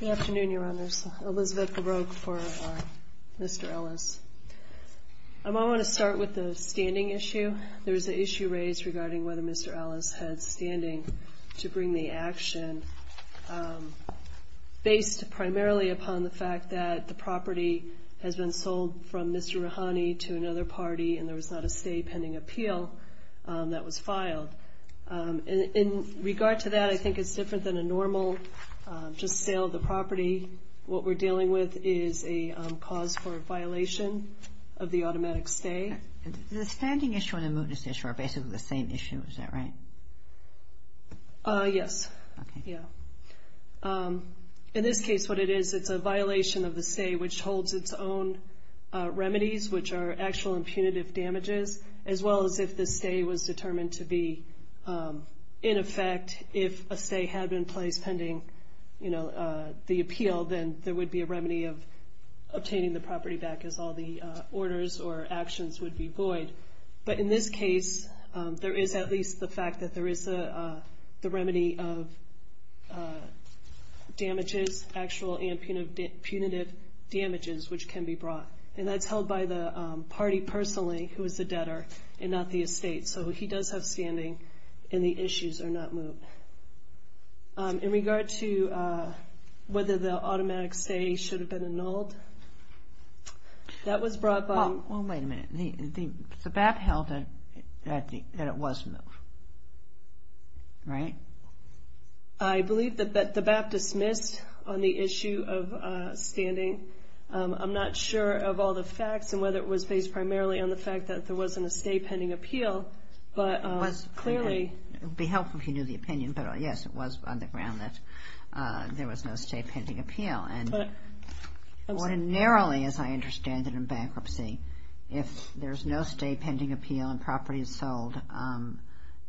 Good afternoon, Your Honors. Elizabeth Baroque for Mr. Ellis. I want to start with the standing issue. There was an issue raised regarding whether Mr. Ellis had standing to bring the action based primarily upon the fact that the property has been sold from Mr. Roohani to another party and there was not a stay pending appeal that was filed. In regard to that, I think it's different than a normal just sale of the property. What we're dealing with is a cause for a violation of the automatic stay. The standing issue and the mootness issue are basically the same issue, is that right? Yes. In this case, what it is, it's a violation of the stay which holds its own remedies, which are actual impunitive damages, as well as if the stay was determined to be in effect. If a stay had been placed pending the appeal, then there would be a remedy of obtaining the property back as all the orders or actions would be void. But in this case, there is at least the fact that there is the remedy of damages, actual impunitive damages, which can be brought. And that's held by the party personally, who is the debtor and not the estate. So he does have standing and the issues are not moot. In regard to whether the automatic stay should have been annulled, that was brought by... Well, wait a minute. The BAP held that it was moot, right? I believe that the BAP dismissed on the issue of standing. I'm not sure of all the facts and whether it was based primarily on the fact that there wasn't a stay pending appeal, but clearly... It would be helpful if you knew the opinion, but yes, it was on the ground that there was no stay pending appeal. Ordinarily, as I understand it in bankruptcy, if there's no stay pending appeal and property is sold,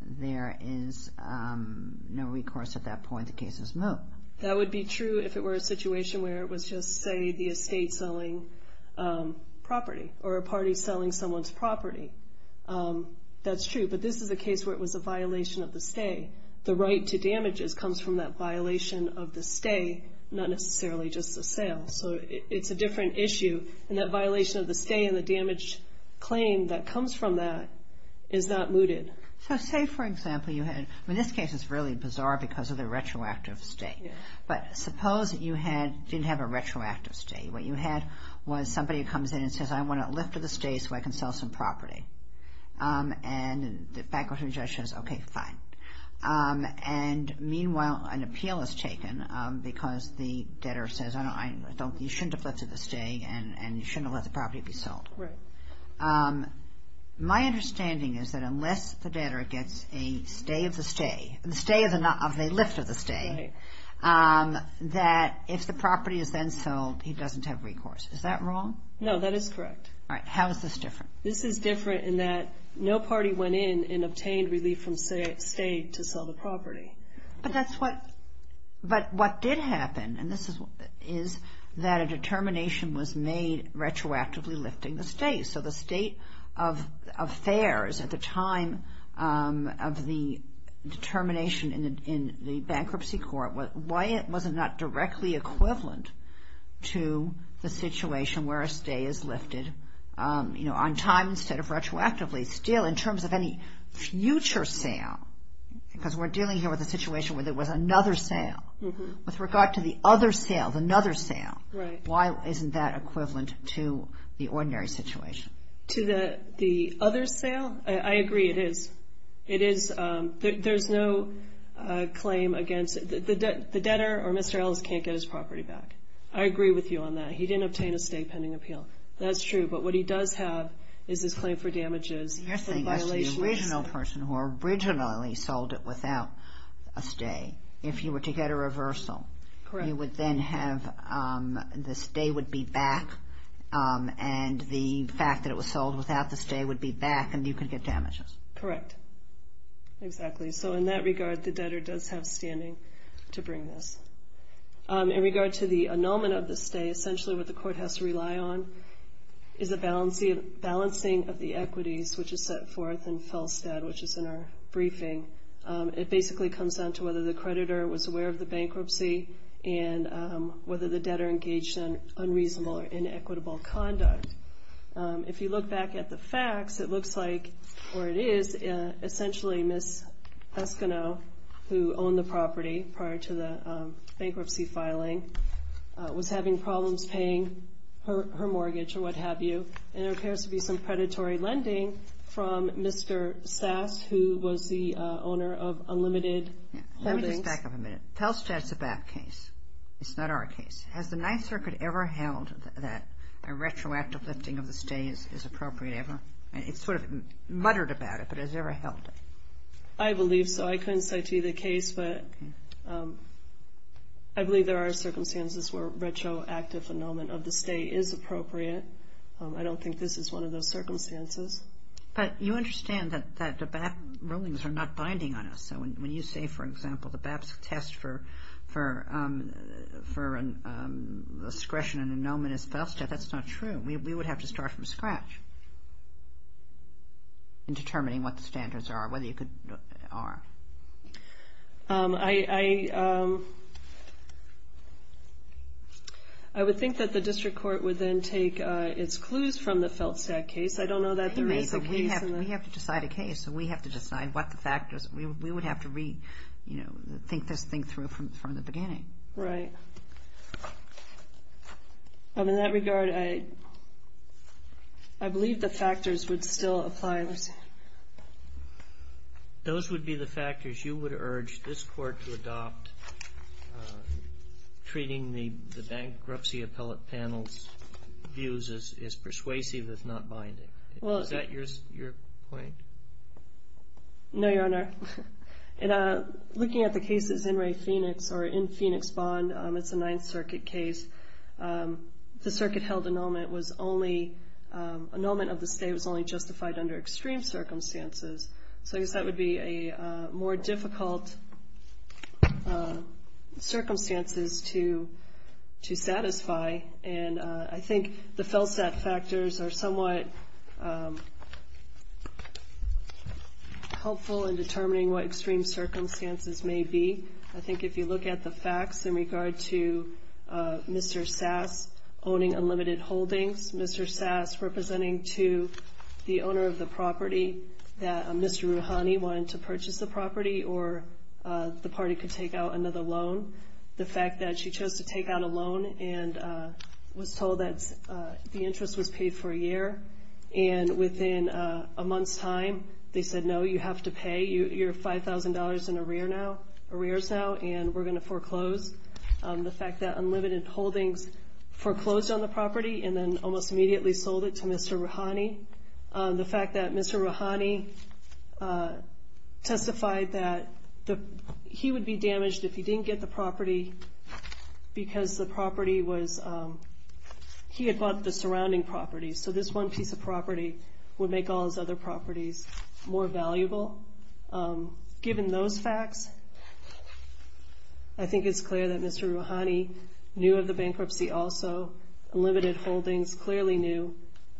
there is no recourse at that point. The case is moot. That would be true if it were a situation where it was just, say, the estate selling property or a party selling someone's property. That's true. But this is a case where it was a violation of the stay. The right to damages comes from that violation of the stay, not necessarily just the sale. So it's a different issue. And that violation of the stay and the damage claim that comes from that is not mooted. So say, for example, you had... In this case, it's really bizarre because of the retroactive stay. But suppose you didn't have a retroactive stay. What you had was somebody who comes in and says, I want a lift of the stay so I can sell some property. And the bankruptcy judge says, okay, fine. And meanwhile, an appeal is taken because the debtor says, you shouldn't have lifted the stay and you shouldn't have let the property be sold. Right. My understanding is that unless the debtor gets a stay of the stay, the stay of a lift of the stay, that if the property is then sold, he doesn't have recourse. Is that wrong? No, that is correct. All right. How is this different? This is different in that no party went in and obtained relief from stay to sell the property. But that's what... But what did happen, and this is... is that a determination was made retroactively lifting the stay. So the state of affairs at the time of the determination in the bankruptcy court, why it wasn't not directly equivalent to the situation where a stay is lifted, you know, on time instead of retroactively. Still, in terms of any future sale, because we're dealing here with a situation where there was another sale. With regard to the other sale, another sale. Right. Why isn't that equivalent to the ordinary situation? To the other sale? I agree it is. It is... There's no claim against... The debtor or Mr. Ellis can't get his property back. I agree with you on that. He didn't obtain a stay pending appeal. That's true. But what he does have is his claim for damages. You're saying that the original person who originally sold it without a stay, if you were to get a reversal... Correct. You would then have... The stay would be back, and the fact that it was sold without the stay would be back, and you could get damages. Correct. Exactly. So in that regard, the debtor does have standing to bring this. In regard to the annulment of the stay, essentially what the court has to rely on is the balancing of the equities, which is set forth in Felstad, which is in our briefing. It basically comes down to whether the creditor was aware of the bankruptcy and whether the debtor engaged in unreasonable or inequitable conduct. If you look back at the facts, it looks like, or it is, essentially Ms. Eskineau, who owned the property prior to the bankruptcy filing, was having problems paying her mortgage or what have you, and there appears to be some predatory lending from Mr. Sass, who was the owner of Unlimited Holdings. Let me just back up a minute. Felstad's a bad case. It's not our case. Has the Ninth Circuit ever held that a retroactive lifting of the stay is appropriate ever? It sort of muttered about it, but has it ever held it? I believe so. I couldn't cite either case, but I believe there are circumstances where retroactive annulment of the stay is appropriate. I don't think this is one of those circumstances. But you understand that the BAP rulings are not binding on us. So when you say, for example, the BAP's test for discretion in annulment is Felstad, that's not true. We would have to start from scratch in determining what the standards are, whether you could argue. I would think that the district court would then take its clues from the Felstad case. I don't know that there is a case. We have to decide a case, so we have to decide what the factors are. We would have to re-think this thing through from the beginning. Right. In that regard, I believe the factors would still apply. Those would be the factors you would urge this Court to adopt treating the bankruptcy appellate panel's views as persuasive, as not binding. Is that your point? No, Your Honor. Looking at the cases in Phoenix Bond, it's a Ninth Circuit case. The circuit-held annulment of the stay was only justified under extreme circumstances. So I guess that would be a more difficult circumstance to satisfy. I think the Felstad factors are somewhat helpful in determining what extreme circumstances may be. I think if you look at the facts in regard to Mr. Sass owning unlimited holdings, Mr. Sass representing to the owner of the property that Mr. Rouhani wanted to purchase the property or the party could take out another loan, the fact that she chose to take out a loan and was told that the interest was paid for a year, and within a month's time they said, no, you have to pay. You're $5,000 in arrears now, and we're going to foreclose. The fact that unlimited holdings foreclosed on the property and then almost immediately sold it to Mr. Rouhani. The fact that Mr. Rouhani testified that he would be damaged if he didn't get the property because he had bought the surrounding property, so this one piece of property would make all his other properties more valuable. Given those facts, I think it's clear that Mr. Rouhani knew of the bankruptcy also. Unlimited holdings clearly knew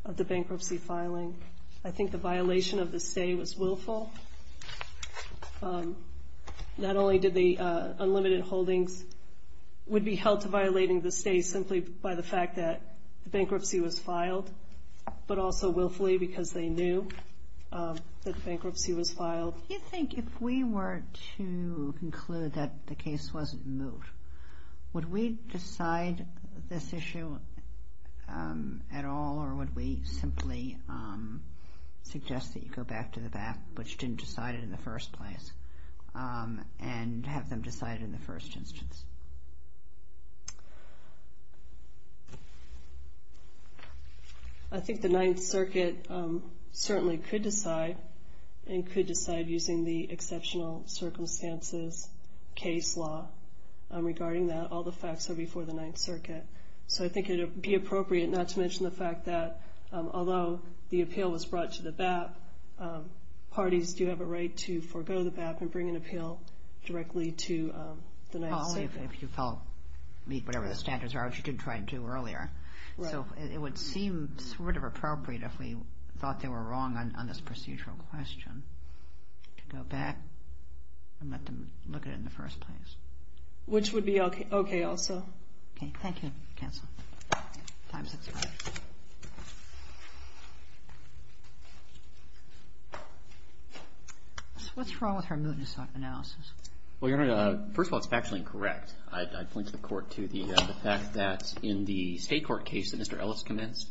of the bankruptcy filing. I think the violation of the stay was willful. Not only did the unlimited holdings would be held to violating the stay simply by the fact that the bankruptcy was filed, but also willfully because they knew that the bankruptcy was filed. Do you think if we were to conclude that the case wasn't moved, would we decide this issue at all, or would we simply suggest that you go back to the back, which didn't decide it in the first place, and have them decide in the first instance? I think the Ninth Circuit certainly could decide, and could decide using the exceptional circumstances case law regarding that. All the facts are before the Ninth Circuit, so I think it would be appropriate not to mention the fact that although the appeal was brought to the BAP, parties do have a right to forego the BAP and bring an appeal directly to the Ninth Circuit. If you meet whatever the standards are, which you did try to do earlier. So it would seem sort of appropriate if we thought they were wrong on this procedural question to go back and let them look at it in the first place. Which would be okay also. Okay, thank you. Cancel. Time's expired. What's wrong with her mootness analysis? Well, Your Honor, first of all, it's factually incorrect. I point to the court to the fact that in the state court case that Mr. Ellis commenced,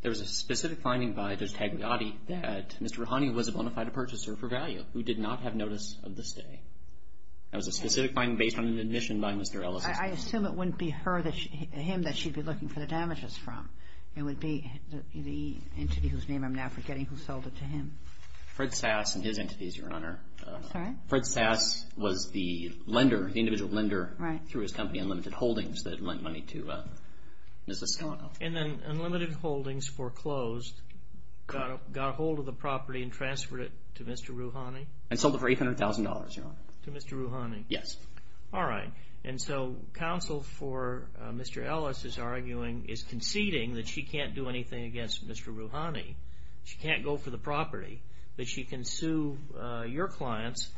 there was a specific finding by Judge Tagliati that Mr. Rahani was a bona fide purchaser for value who did not have notice of the stay. That was a specific finding based on an admission by Mr. Ellis. I assume it wouldn't be him that she'd be looking for the damages from. It would be the entity whose name I'm now forgetting who sold it to him. Fred Sass and his entities, Your Honor. Sorry? Fred Sass was the lender, the individual lender through his company Unlimited Holdings that lent money to Ms. Escondo. And then Unlimited Holdings foreclosed, got a hold of the property and transferred it to Mr. Rahani? And sold it for $800,000, Your Honor. To Mr. Rahani? Yes. All right. And so counsel for Mr. Ellis is arguing, is conceding that she can't do anything against Mr. Rahani. She can't go for the property. But she can sue your clients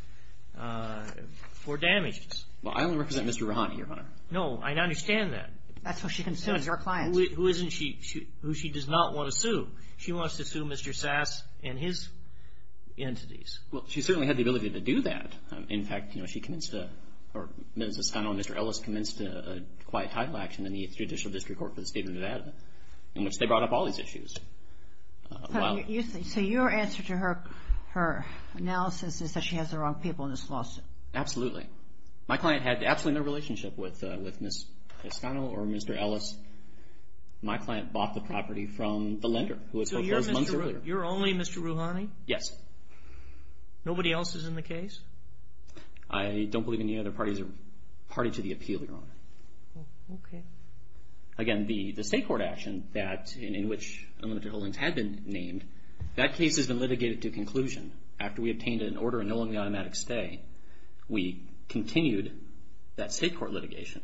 for damages. Well, I only represent Mr. Rahani, Your Honor. No, I understand that. That's what she can sue is your clients. Who isn't she? Who she does not want to sue. She wants to sue Mr. Sass and his entities. Well, she certainly had the ability to do that. In fact, you know, she convinced, or Ms. Escondo and Mr. Ellis, in the Judicial District Court for the State of Nevada, in which they brought up all these issues. So your answer to her analysis is that she has the wrong people in this lawsuit? Absolutely. My client had absolutely no relationship with Ms. Escondo or Mr. Ellis. My client bought the property from the lender who was held there a month earlier. So you're only Mr. Rahani? Yes. Nobody else is in the case? I don't believe any other parties are party to the appeal, Your Honor. Okay. Again, the state court action in which Unlimited Holdings had been named, that case has been litigated to conclusion. After we obtained an order annulling the automatic stay, we continued that state court litigation.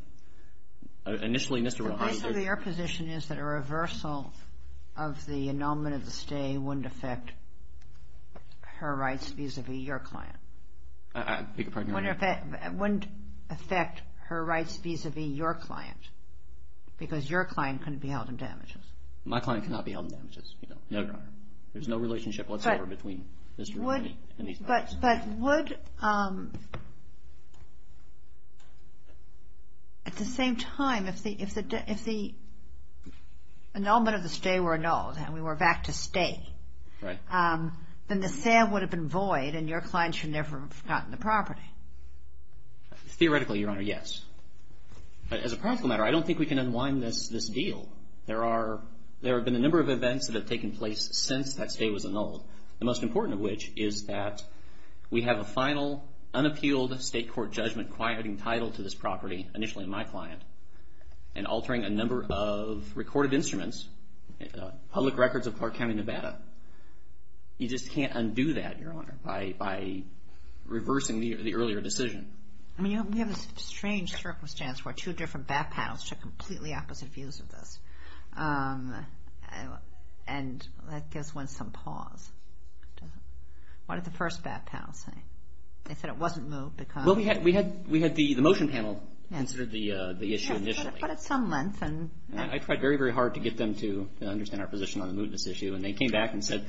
Initially, Mr. Rahani didn't – So basically your position is that a reversal of the annulment of the stay wouldn't affect her rights vis-à-vis your client? I beg your pardon, Your Honor? Wouldn't affect her rights vis-à-vis your client because your client couldn't be held in damages? My client cannot be held in damages, Your Honor. There's no relationship whatsoever between Mr. Rahani and these parties. But would – at the same time, if the annulment of the stay were annulled and we were back to stay, then the sale would have been void and your client should never have gotten the property. Theoretically, Your Honor, yes. But as a practical matter, I don't think we can unwind this deal. There have been a number of events that have taken place since that stay was annulled, the most important of which is that we have a final, unappealed state court judgment quieting title to this property, initially my client, and altering a number of recorded instruments, public records of Clark County, Nevada. You just can't undo that, Your Honor, by reversing the earlier decision. I mean, you have this strange circumstance where two different back panels took completely opposite views of this, and that gives one some pause. What did the first back panel say? They said it wasn't moved because – Well, we had the motion panel consider the issue initially. But at some length – I tried very, very hard to get them to understand our position on the mootness issue, and they came back and said,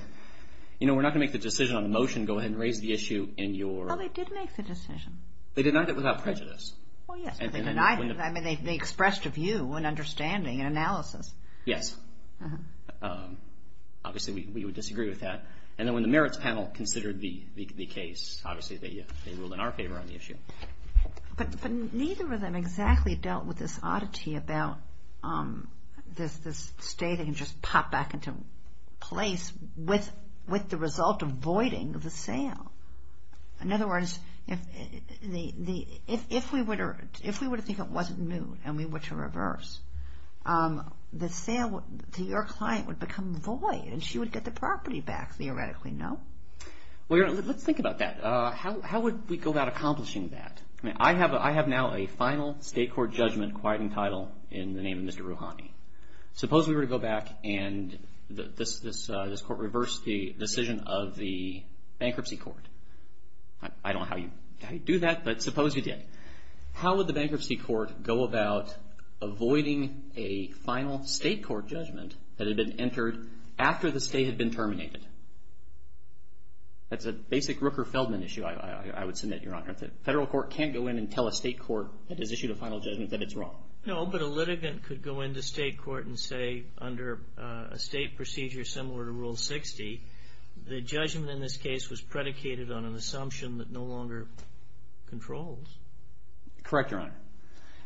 you know, we're not going to make the decision on the motion. Go ahead and raise the issue in your – Well, they did make the decision. They denied it without prejudice. Well, yes, but they denied it. I mean, they expressed a view, an understanding, an analysis. Yes. Obviously, we would disagree with that. And then when the merits panel considered the case, obviously they ruled in our favor on the issue. But neither of them exactly dealt with this oddity about this state that can just pop back into place with the result of voiding the sale. In other words, if we were to think it wasn't moved and we were to reverse, the sale to your client would become void and she would get the property back, theoretically, no? Well, let's think about that. How would we go about accomplishing that? I mean, I have now a final state court judgment quite entitled in the name of Mr. Rouhani. Suppose we were to go back and this court reversed the decision of the bankruptcy court. I don't know how you do that, but suppose you did. How would the bankruptcy court go about avoiding a final state court judgment that had been entered after the state had been terminated? That's a basic Rooker-Feldman issue, I would submit, Your Honor. The federal court can't go in and tell a state court that has issued a final judgment that it's wrong. No, but a litigant could go into state court and say under a state procedure similar to Rule 60, the judgment in this case was predicated on an assumption that no longer controls. Correct, Your Honor.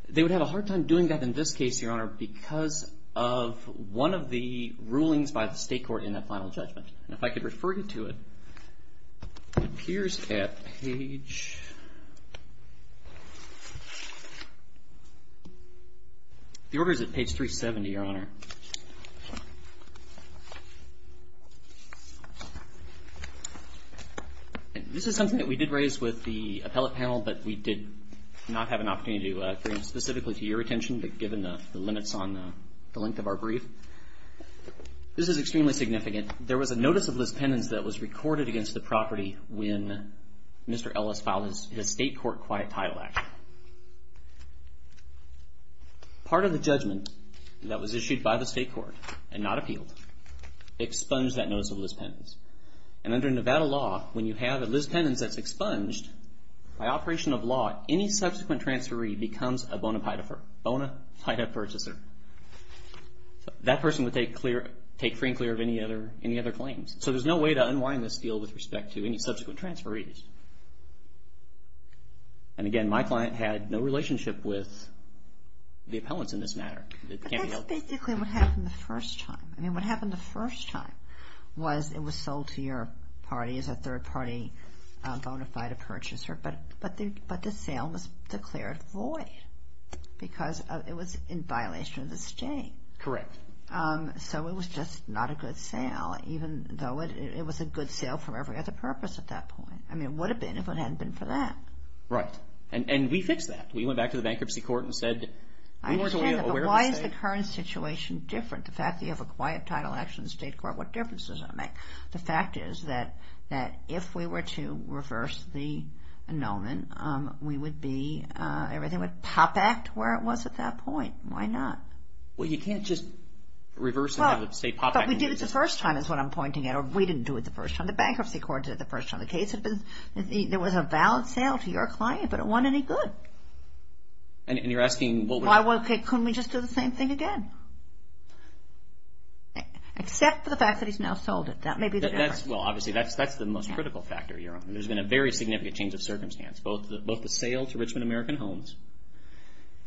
They would have a hard time doing that in this case, Your Honor, because of one of the rulings by the state court in that final judgment. And if I could refer you to it, it appears at page – the order is at page 370, Your Honor. This is something that we did raise with the appellate panel, but we did not have an opportunity to bring specifically to your attention, but given the limits on the length of our brief. This is extremely significant. There was a notice of lis pendens that was recorded against the property when Mr. Ellis filed his state court quiet title act. Part of the judgment that was issued by the state court and not appealed expunged that notice of lis pendens. And under Nevada law, when you have a lis pendens that's expunged, by operation of law, any subsequent transferee becomes a bona fide purchaser. That person would take free and clear of any other claims. So there's no way to unwind this deal with respect to any subsequent transferees. And again, my client had no relationship with the appellants in this matter. But that's basically what happened the first time. I mean, what happened the first time was it was sold to your party as a third party bona fide purchaser, but the sale was declared void because it was in violation of the state. Correct. So it was just not a good sale, even though it was a good sale for every other purpose at that point. I mean, it would have been if it hadn't been for that. Right. And we fixed that. We went back to the bankruptcy court and said we weren't aware of the state. I understand that, but why is the current situation different? The fact that you have a quiet title action in the state court, what difference does it make? The fact is that if we were to reverse the annulment, then we would be, everything would pop back to where it was at that point. Why not? Well, you can't just reverse and have the state pop back. But we did it the first time is what I'm pointing at. We didn't do it the first time. The bankruptcy court did it the first time. The case had been, there was a valid sale to your client, but it wasn't any good. And you're asking what would happen? Couldn't we just do the same thing again? Except for the fact that he's now sold it. That may be the difference. Well, obviously, that's the most critical factor. There's been a very significant change of circumstance, both the sale to Richmond American Homes,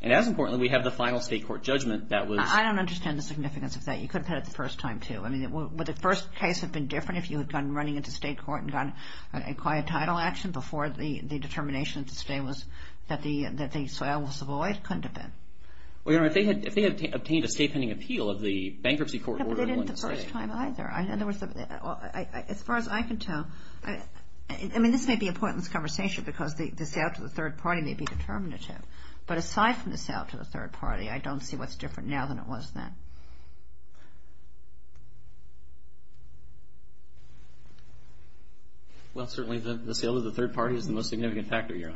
and as importantly, we have the final state court judgment that was... I don't understand the significance of that. You could have had it the first time, too. Would the first case have been different if you had gone running into state court and gotten a quiet title action before the determination that the sale was void? Couldn't have been. Well, Your Honor, if they had obtained a state pending appeal of the bankruptcy court... They didn't the first time either. As far as I can tell, I mean, this may be a pointless conversation because the sale to the third party may be determinative. But aside from the sale to the third party, I don't see what's different now than it was then. Well, certainly the sale to the third party is the most significant factor, Your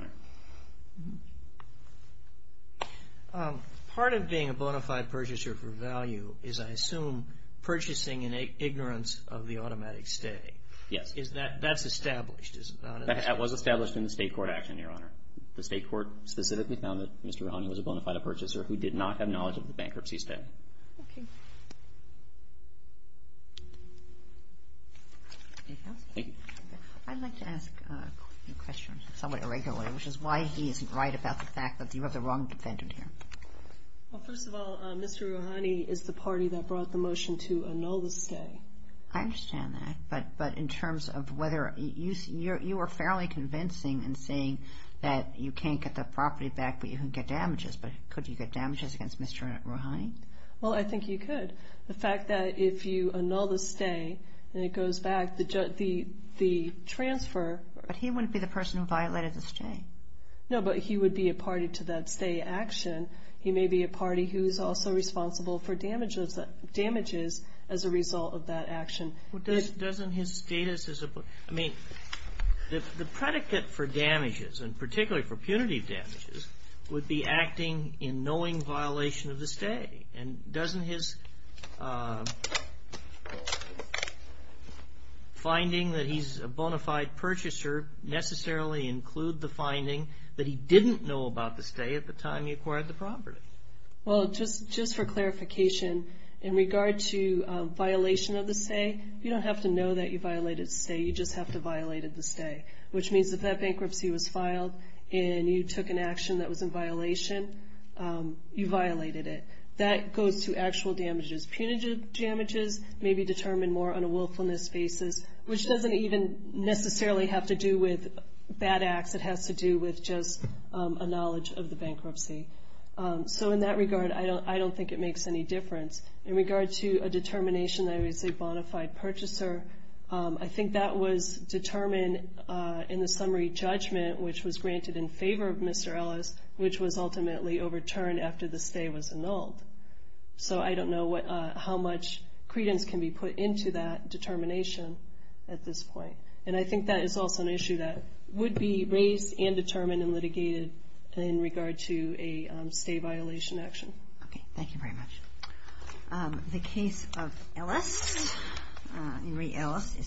Honor. Part of being a bona fide purchaser for value is, I assume, purchasing in ignorance of the automatic stay. Yes. That's established, is it not? That was established in the state court action, Your Honor. The state court specifically found that Mr. Rahoney was a bona fide purchaser who did not have knowledge of the bankruptcy stay. Okay. Anything else? Thank you. I'd like to ask a question somewhat irregularly, which is why he isn't right about the fact that you have the wrong defendant here. Well, first of all, Mr. Rahoney is the party that brought the motion to annul the stay. I understand that. But in terms of whether you are fairly convincing in saying that you can't get the property back, but you can get damages. But could you get damages against Mr. Rahoney? Well, I think you could. But the fact that if you annul the stay and it goes back, the transfer. But he wouldn't be the person who violated the stay. No, but he would be a party to that stay action. He may be a party who is also responsible for damages as a result of that action. Doesn't his status as a person? I mean, the predicate for damages, and particularly for punitive damages, would be acting in knowing violation of the stay. And doesn't his finding that he's a bona fide purchaser necessarily include the finding that he didn't know about the stay at the time he acquired the property? Well, just for clarification, in regard to violation of the stay, you don't have to know that you violated the stay. You just have to have violated the stay, which means if that bankruptcy was filed and you took an action that was in violation, you violated it. That goes to actual damages. Punitive damages may be determined more on a willfulness basis, which doesn't even necessarily have to do with bad acts. It has to do with just a knowledge of the bankruptcy. So in that regard, I don't think it makes any difference. In regard to a determination that he's a bona fide purchaser, I think that was determined in the summary judgment, which was granted in favor of Mr. Ellis, which was ultimately overturned after the stay was annulled. So I don't know how much credence can be put into that determination at this point. And I think that is also an issue that would be raised and determined and litigated in regard to a stay violation action. Okay. Thank you very much. The case of Ellis, Henry Ellis, is submitted.